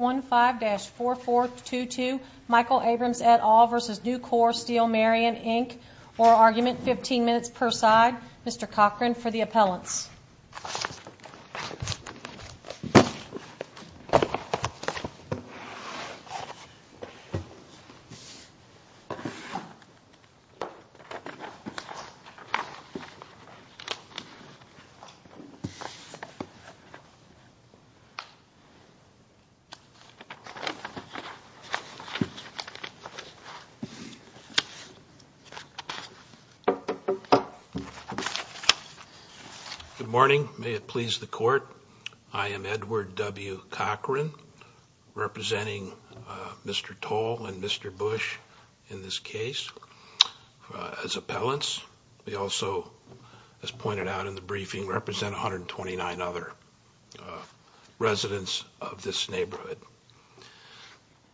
15-4422 Michael Abrams et al v. Nucor Steel Marion Inc Oral Argument, 15 minutes per side Mr. Cochran for the appellants Edward W. Cochran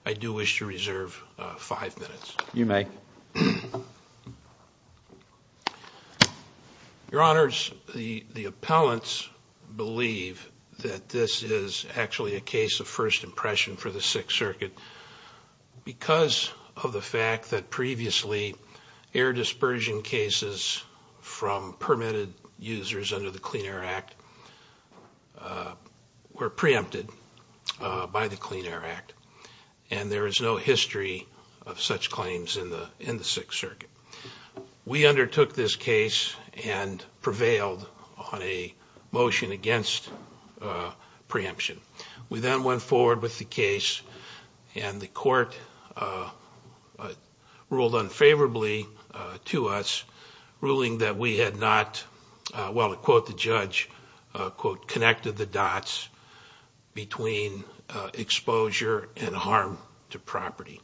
I do wish to reserve five minutes. You may. Your Honors, the appellants believe that this is actually a case of first impression for the Sixth Circuit because of the fact that previously air dispersion cases from permitted users under the Clean Air Act were preempted by the Clean Air Act. And there is no history of such claims in the Sixth Circuit. We undertook this case and prevailed on a motion against preemption. We then went forward with the case and the court ruled unfavorably to us, ruling that we had not, well to quote the judge, quote, connected the dots between exposure and harm to property.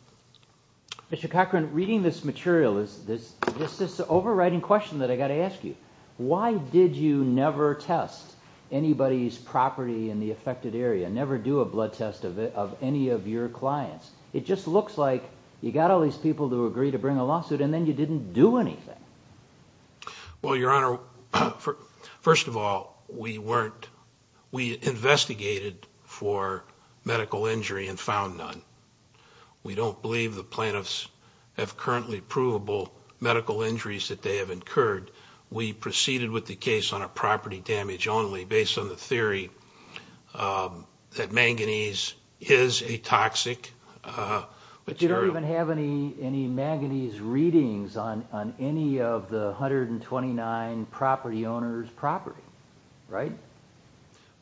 Mr. Cochran, reading this material, there's this overriding question that I've got to ask you. Why did you never test anybody's property in the affected area, never do a blood test of any of your clients? It just looks like you got all these people to agree to bring a lawsuit and then you didn't do anything. Well, Your Honor, first of all, we investigated for medical injury and found none. We don't believe the plaintiffs have currently provable medical injuries that they have incurred. We proceeded with the case on a property damage only based on the theory that manganese is a toxic material. You don't even have any manganese readings on any of the 129 property owners' property, right?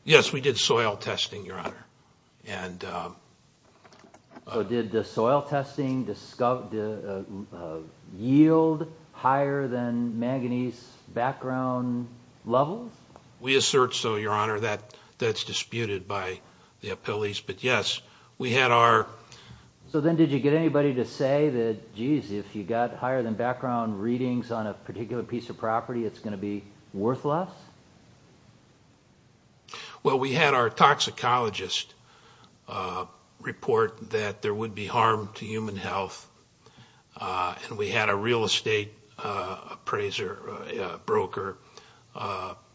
Yes, we did soil testing, Your Honor. So did the soil testing yield higher than manganese background levels? We assert so, Your Honor. That's disputed by the appellees. So then did you get anybody to say that, geez, if you got higher than background readings on a particular piece of property, it's going to be worthless? Well, we had our toxicologist report that there would be harm to human health. And we had a real estate appraiser, a broker,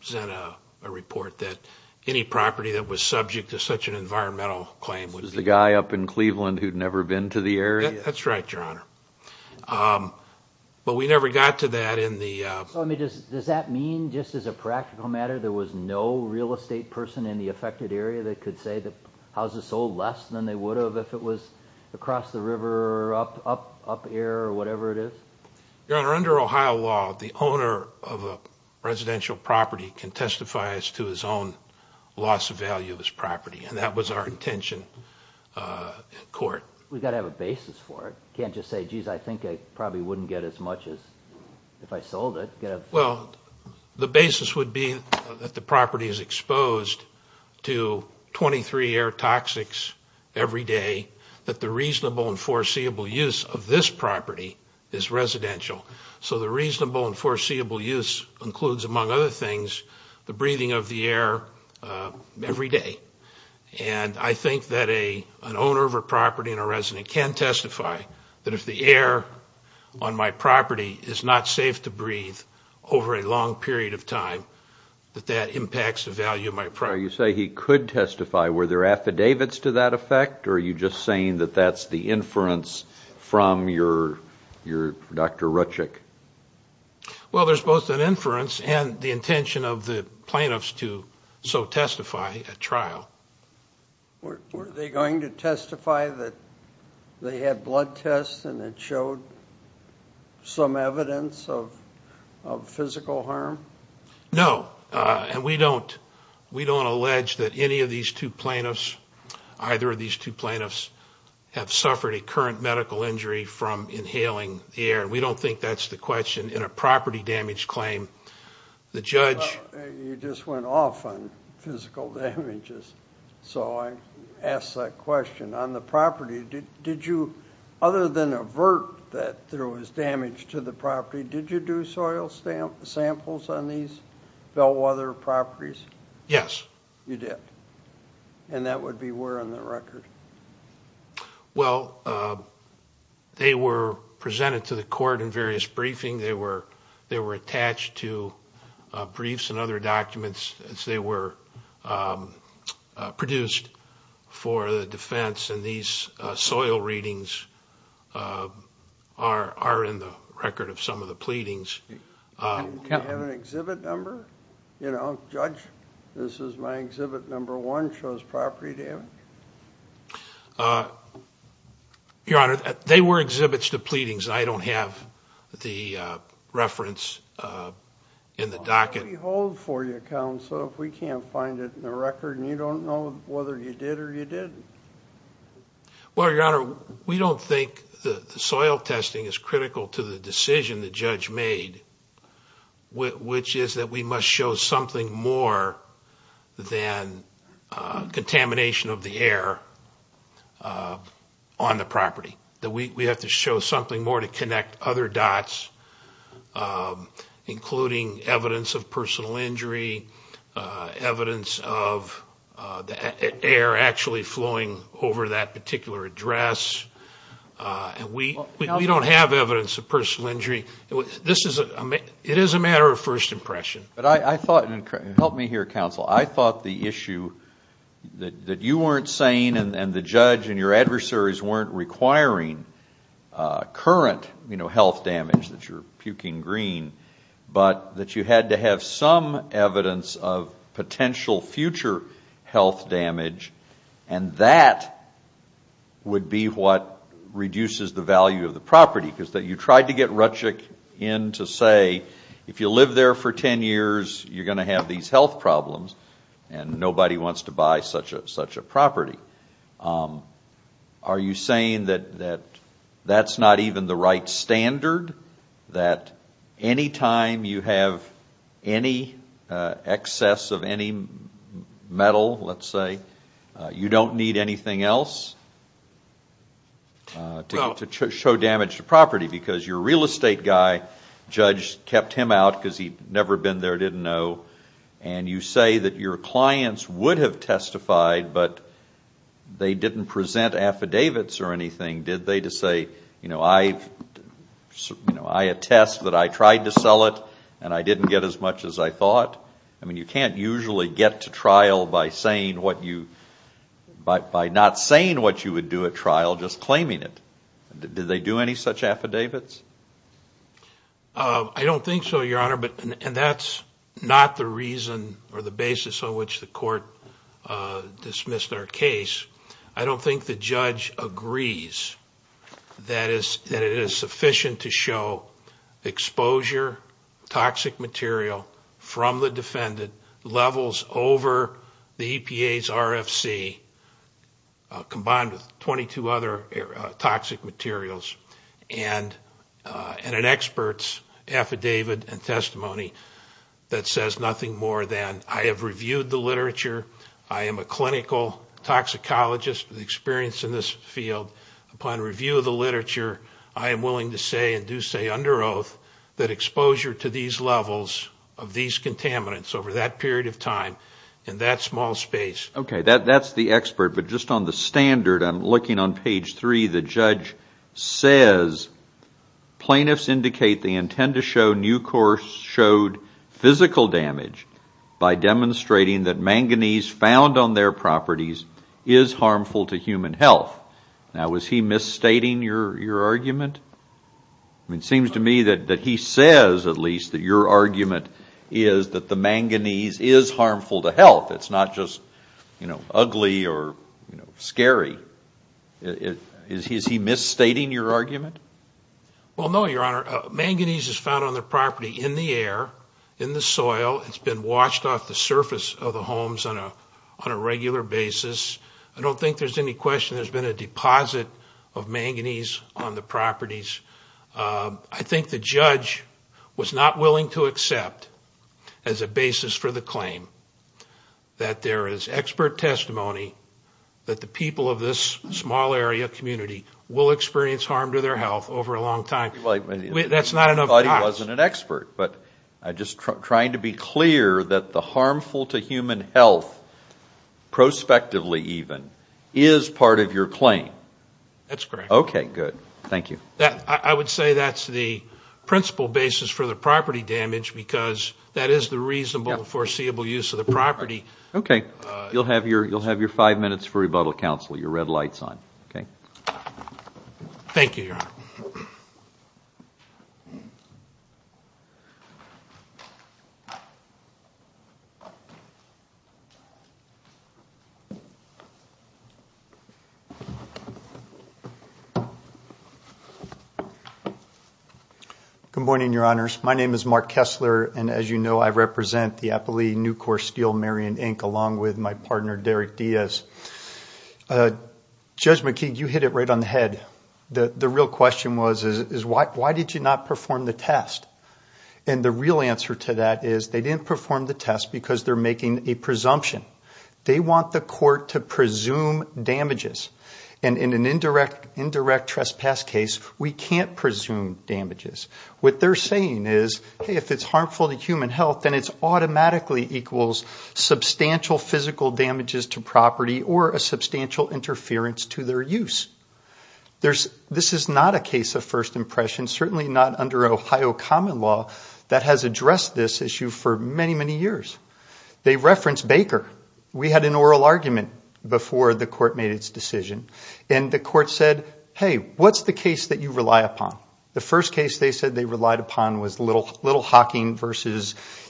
send a report that any property that was subject to such an environmental claim would be... The guy up in Cleveland who'd never been to the area? That's right, Your Honor. But we never got to that in the... Does that mean, just as a practical matter, there was no real estate person in the affected area that could say that houses sold less than they would have if it was across the river or up here or whatever it is? Your Honor, under Ohio law, the owner of a residential property can testify as to his own loss of value of his property, and that was our intention in court. We've got to have a basis for it. You can't just say, geez, I think I probably wouldn't get as much as if I sold it. Well, the basis would be that the property is exposed to 23 air toxics every day, that the reasonable and foreseeable use of this property is residential. So the reasonable and foreseeable use includes, among other things, the breathing of the air every day. And I think that an owner of a property and a resident can testify that if the air on my property is not safe to breathe over a long period of time, that that impacts the value of my property. You say he could testify. Were there affidavits to that effect, or are you just saying that that's the inference from your Dr. Rutchick? Well, there's both an inference and the intention of the plaintiffs to so testify at trial. Were they going to testify that they had blood tests and it showed some evidence of physical harm? No, and we don't allege that any of these two plaintiffs, either of these two plaintiffs, have suffered a current medical injury from inhaling the air. We don't think that's the question in a property damage claim. You just went off on physical damages, so I ask that question. On the property, did you, other than avert that there was damage to the property, did you do soil samples on these Bellwether properties? Yes. You did. And that would be where on the record? Well, they were presented to the court in various briefings. They were attached to briefs and other documents as they were produced for the defense. And these soil readings are in the record of some of the pleadings. Do you have an exhibit number? You know, judge, this is my exhibit number one, shows property damage. Your Honor, they were exhibits to pleadings. I don't have the reference in the docket. Why don't we hold for you, counsel, if we can't find it in the record and you don't know whether you did or you didn't? Well, Your Honor, we don't think the soil testing is critical to the decision the judge made, which is that we must show something more than contamination of the air on the property. We have to show something more to connect other dots, including evidence of personal injury, evidence of air actually flowing over that particular address. We don't have evidence of personal injury. It is a matter of first impression. Help me here, counsel. I thought the issue that you weren't saying and the judge and your adversaries weren't requiring current health damage, that you're puking green, but that you had to have some evidence of potential future health damage, and that would be what reduces the value of the property, because you tried to get Rutchick in to say, if you live there for ten years, you're going to have these health problems, and nobody wants to buy such a property. Are you saying that that's not even the right standard, that any time you have any excess of any metal, let's say, you don't need anything else to show damage to property, because your real estate guy, the judge kept him out because he'd never been there, didn't know, and you say that your clients would have testified, but they didn't present affidavits or anything. Did they just say, you know, I attest that I tried to sell it, and I didn't get as much as I thought? I mean, you can't usually get to trial by not saying what you would do at trial, just claiming it. Did they do any such affidavits? I don't think so, Your Honor, and that's not the reason or the basis on which the court dismissed our case. I don't think the judge agrees that it is sufficient to show exposure, toxic material from the defendant, levels over the EPA's RFC, combined with 22 other toxic materials, and an expert's affidavit and testimony that says nothing more than I have reviewed the literature, I am a clinical toxicologist with experience in this field. Upon review of the literature, I am willing to say, and do say under oath, that exposure to these levels of these contaminants over that period of time in that small space. Okay, that's the expert, but just on the standard, I'm looking on page three. The judge says plaintiffs indicate they intend to show Nucor showed physical damage by demonstrating that manganese found on their properties is harmful to human health. Now, was he misstating your argument? It seems to me that he says, at least, that your argument is that the manganese is harmful to health. It's not just ugly or scary. Is he misstating your argument? Well, no, Your Honor. Manganese is found on the property in the air, in the soil. It's been washed off the surface of the homes on a regular basis. I don't think there's any question there's been a deposit of manganese on the property I think the judge was not willing to accept as a basis for the claim that there is expert testimony that the people of this small area community will experience harm to their health over a long time. That's not enough. I thought he wasn't an expert, but I'm just trying to be clear that the harmful to human health, prospectively even, is part of your claim. That's correct. Okay, good. Thank you. I would say that's the principal basis for the property damage because that is the reasonable, foreseeable use of the property. Okay. You'll have your five minutes for rebuttal, counsel. Okay. Thank you, Your Honor. Good morning, Your Honors. My name is Mark Kessler, and as you know, I represent the Appalachian New Corps Steel Marion, Inc., along with my partner, Derek Diaz. Judge McKeague, you hit it right on the head. The real question was, is why did you not perform the test? And the real answer to that is they didn't perform the test because they're making a presumption. They want the court to presume damages. And in an indirect trespass case, we can't presume damages. What they're saying is, hey, if it's harmful to human health, then it automatically equals substantial physical damages to property or a substantial interference to their use. This is not a case of first impression, certainly not under Ohio common law that has addressed this issue for many, many years. They referenced Baker. We had an oral argument before the court made its decision, and the court said, hey, what's the case that you rely upon? The first case they said they relied upon was Little Hocking v.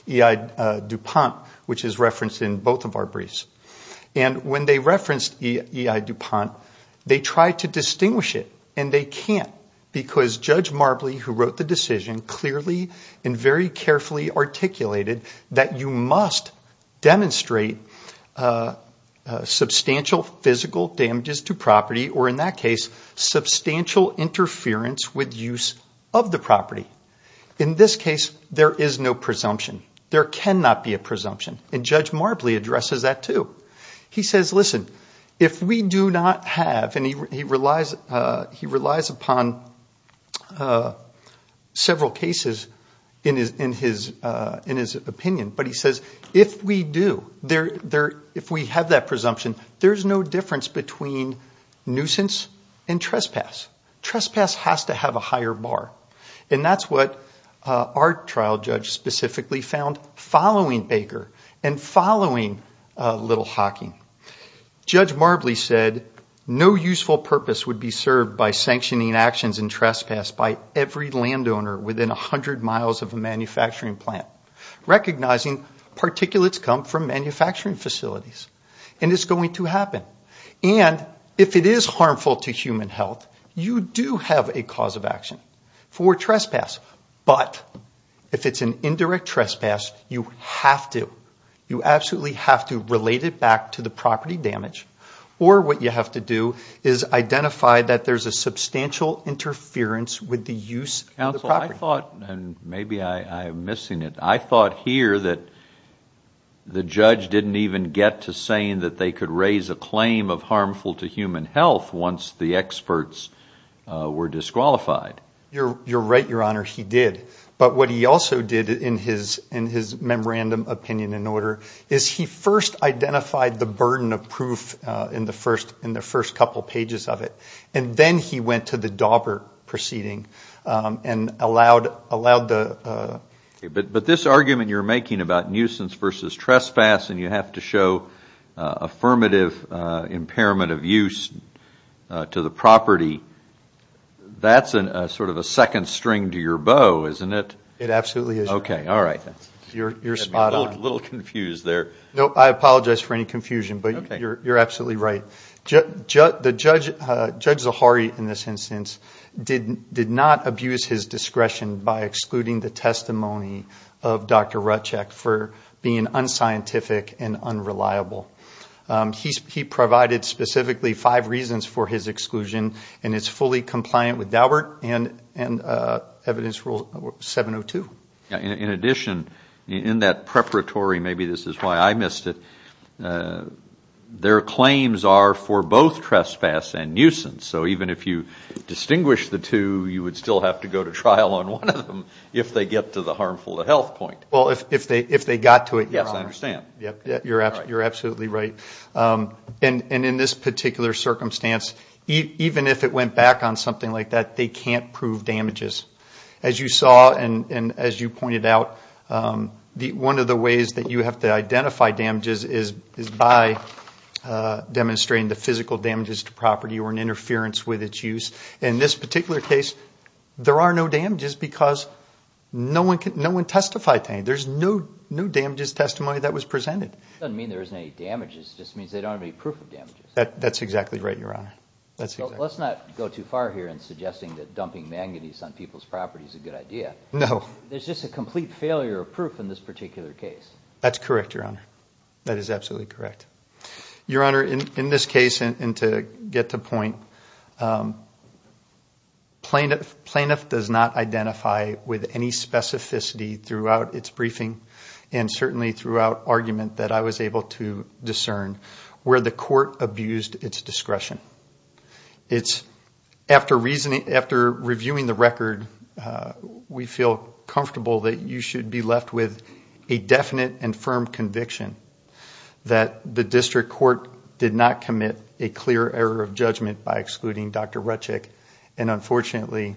E.I. DuPont, which is referenced in both of our briefs. And when they referenced E.I. DuPont, they tried to distinguish it, and they can't, because Judge Marbley, who wrote the decision, clearly and very carefully articulated that you must demonstrate substantial physical damages to property, or in that case, substantial interference with use of the property. In this case, there is no presumption. There cannot be a presumption, and Judge Marbley addresses that, too. He says, listen, if we do not have, and he relies upon several cases in his opinion, but he says if we do, if we have that presumption, there's no difference between nuisance and trespass. Trespass has to have a higher bar, and that's what our trial judge specifically found following Baker and following Little Hocking. Judge Marbley said no useful purpose would be served by sanctioning actions and trespass by every landowner within 100 miles of a manufacturing plant, recognizing particulates come from manufacturing facilities, and it's going to happen. If it is harmful to human health, you do have a cause of action for trespass, but if it's an indirect trespass, you have to, you absolutely have to relate it back to the property damage, or what you have to do is identify that there's a substantial interference with the use of the property. I thought, and maybe I'm missing it, I thought here that the judge didn't even get to saying that they could raise a claim of harmful to human health once the experts were disqualified. You're right, Your Honor, he did. But what he also did in his memorandum opinion and order is he first identified the burden of proof in the first couple pages of it, and then he went to the Daubert proceeding and allowed the... But this argument you're making about nuisance versus trespass, and you have to show affirmative impairment of use to the property, that's sort of a second string to your bow, isn't it? It absolutely is. Okay, all right. You're spot on. A little confused there. No, I apologize for any confusion, but you're absolutely right. Judge Zahari, in this instance, did not abuse his discretion by excluding the testimony of Dr. Rutchak for being unscientific and unreliable. He provided specifically five reasons for his exclusion, and it's fully compliant with Daubert and Evidence Rule 702. In addition, in that preparatory, maybe this is why I missed it, their claims are for both trespass and nuisance. So even if you distinguish the two, you would still have to go to trial on one of them if they get to the harmful to health point. Well, if they got to it, Your Honor. Yes, I understand. You're absolutely right. And in this particular circumstance, even if it went back on something like that, they can't prove damages. As you saw and as you pointed out, one of the ways that you have to identify damages is by demonstrating the physical damages to property or an interference with its use. In this particular case, there are no damages because no one testified to anything. There's no damages testimony that was presented. It doesn't mean there isn't any damages. It just means they don't have any proof of damages. That's exactly right, Your Honor. Let's not go too far here in suggesting that dumping manganese on people's property is a good idea. No. There's just a complete failure of proof in this particular case. That's correct, Your Honor. That is absolutely correct. Your Honor, in this case, and to get to the point, plaintiff does not identify with any specificity throughout its briefing and certainly throughout argument that I was able to discern where the court abused its discretion. After reviewing the record, we feel comfortable that you should be left with a definite and firm conviction that the district court did not commit a clear error of judgment by excluding Dr. Rutchick. Unfortunately,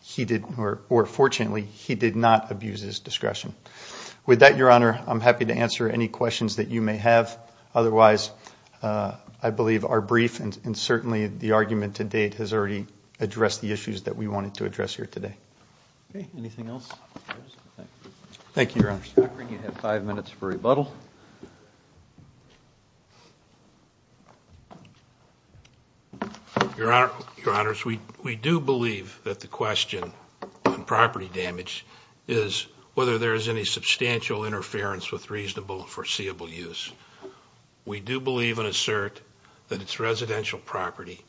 he did not abuse his discretion. With that, Your Honor, I'm happy to answer any questions that you may have. Otherwise, I believe our brief and certainly the argument to date has already addressed the issues that we wanted to address here today. Okay. Anything else? Thank you, Your Honor. You have five minutes for rebuttal. Your Honor, we do believe that the question on property damage is whether there is any substantial interference with reasonable and foreseeable use. We do believe and assert that it's residential property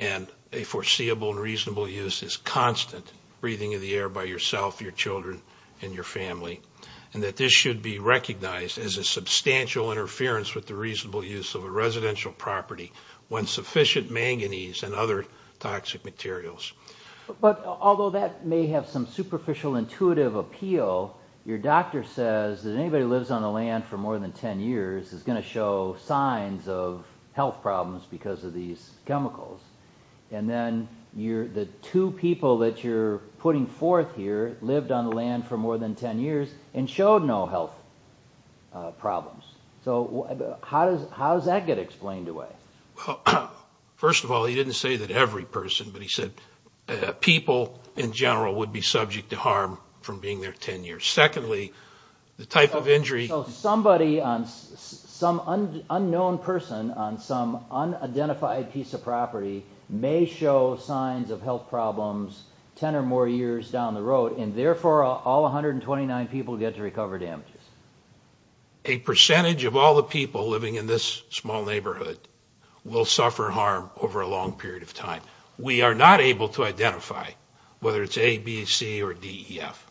and a foreseeable and reasonable use is constant breathing in the air by yourself, your children, and your family. And that this should be recognized as a substantial interference with the reasonable use of a residential property when sufficient manganese and other toxic materials. But although that may have some superficial intuitive appeal, your doctor says that anybody who lives on the land for more than 10 years is going to show signs of health problems because of these chemicals. And then the two people that you're putting forth here lived on the land for more than 10 years and showed no health problems. So how does that get explained away? Well, first of all, he didn't say that every person, but he said people in general would be subject to harm from being there 10 years. Secondly, the type of injury... So somebody, some unknown person on some unidentified piece of property may show signs of health problems 10 or more years down the road, and therefore all 129 people get to recover damages. A percentage of all the people living in this small neighborhood will suffer harm over a long period of time. We are not able to identify whether it's A, B, C, or D, E, F.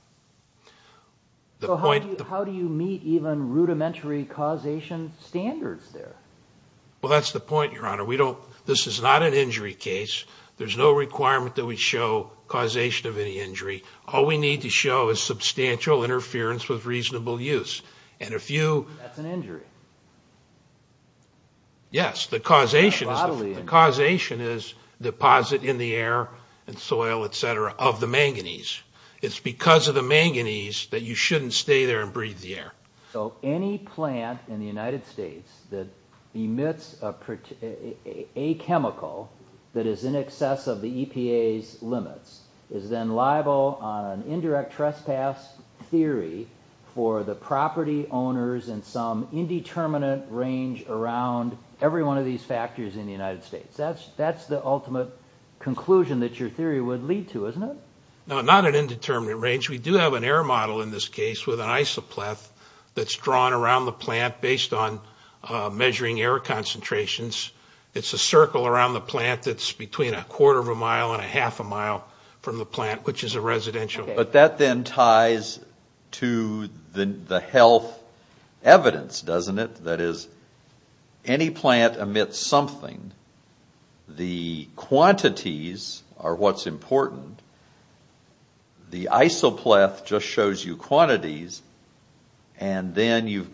So how do you meet even rudimentary causation standards there? Well, that's the point, your honor. This is not an injury case. There's no requirement that we show causation of any injury. All we need to show is substantial interference with reasonable use. That's an injury? Yes, the causation is deposit in the air and soil, etc., of the manganese. It's because of the manganese that you shouldn't stay there and breathe the air. So any plant in the United States that emits a chemical that is in excess of the EPA's limits is then liable on an indirect trespass theory for the property owners in some indeterminate range around every one of these factories in the United States. That's the ultimate conclusion that your theory would lead to, isn't it? No, not an indeterminate range. We do have an air model in this case with an isopleth that's drawn around the plant based on measuring air concentrations. It's a circle around the plant that's between a quarter of a mile and a half a mile from the plant, which is a residential. But that then ties to the health evidence, doesn't it? That is, any plant emits something. The quantities are what's important. The isopleth just shows you quantities, and then you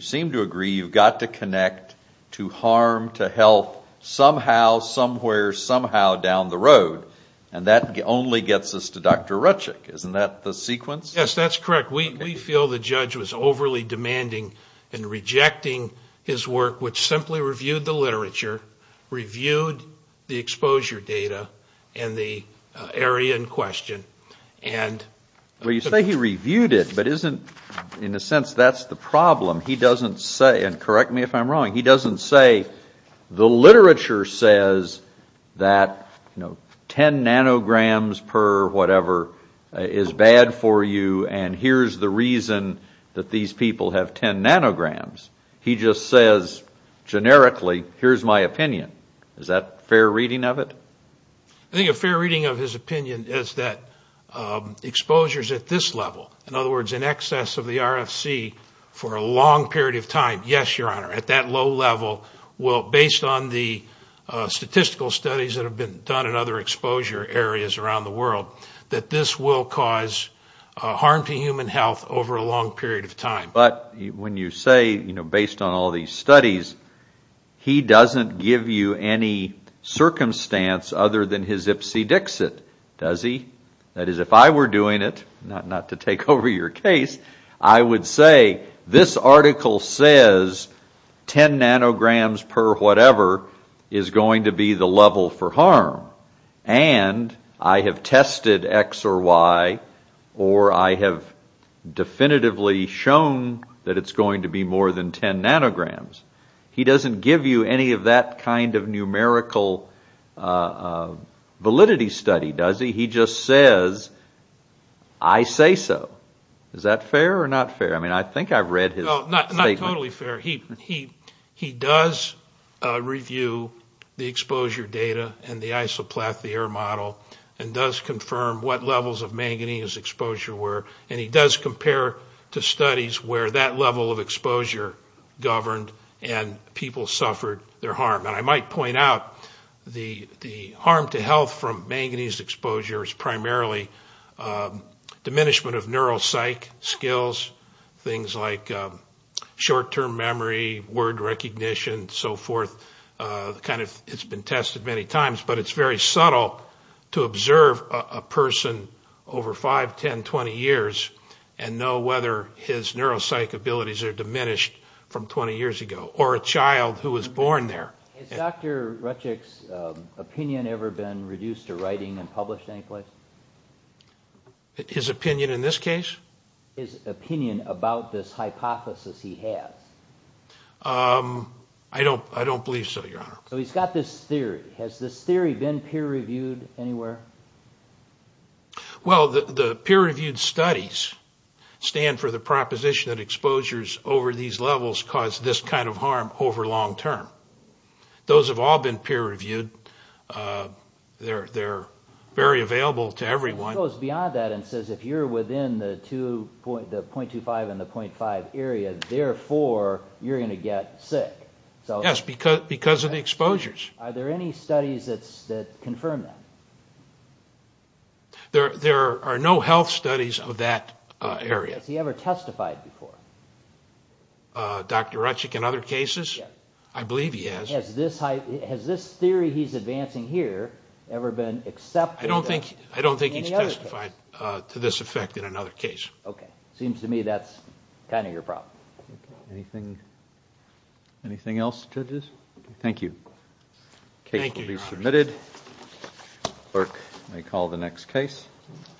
seem to agree you've got to connect to harm, to health, somehow, somewhere, somehow down the road. And that only gets us to Dr. Rutchick. Isn't that the sequence? Yes, that's correct. We feel the judge was overly demanding and rejecting his work, which simply reviewed the literature, reviewed the exposure data, and the area in question. Well, you say he reviewed it, but isn't, in a sense, that's the problem. He doesn't say, and correct me if I'm wrong, he doesn't say the literature says that 10 nanograms per whatever is bad for you, and here's the reason that these people have 10 nanograms. He just says, generically, here's my opinion. Is that a fair reading of it? I think a fair reading of his opinion is that exposures at this level, in other words, in excess of the RFC for a long period of time, yes, your honor, at that low level, based on the statistical studies that have been done in other exposure areas around the world, that this will cause harm to human health over a long period of time. But when you say, based on all these studies, he doesn't give you any circumstance other than his ipsedixit, does he? That is, if I were doing it, not to take over your case, I would say, this article says 10 nanograms per whatever is going to be the level for harm, and I have tested X or Y, or I have definitively shown that it's going to be more than 10 nanograms. He doesn't give you any of that kind of numerical validity study, does he? He just says, I say so. Is that fair or not fair? I mean, I think I've read his statement. Not totally fair. He does review the exposure data and the isoplathy error model, and does confirm what levels of manganese exposure were, and he does compare to studies where that level of exposure governed and people suffered their harm. And I might point out, the harm to health from manganese exposure is primarily diminishment of neuropsych skills, things like short-term memory, word recognition, and so forth. It's been tested many times, but it's very subtle to observe a person over 5, 10, 20 years, and know whether his neuropsych abilities are diminished from 20 years ago, or a child who was born there. Has Dr. Rutchick's opinion ever been reduced to writing and published any place? His opinion in this case? His opinion about this hypothesis he has. I don't believe so, Your Honor. So he's got this theory. Has this theory been peer-reviewed anywhere? Well, the peer-reviewed studies stand for the proposition that exposures over these levels cause this kind of harm over long-term. Those have all been peer-reviewed. They're very available to everyone. It goes beyond that and says if you're within the .25 and the .5 area, therefore, you're going to get sick. Yes, because of the exposures. Are there any studies that confirm that? There are no health studies of that area. Has he ever testified before? Dr. Rutchick in other cases? Yes. I believe he has. Has this theory he's advancing here ever been accepted? I don't think he's testified to this effect in another case. Okay. Seems to me that's kind of your problem. Anything else, judges? Thank you. The case will be submitted. Clerk may call the next case.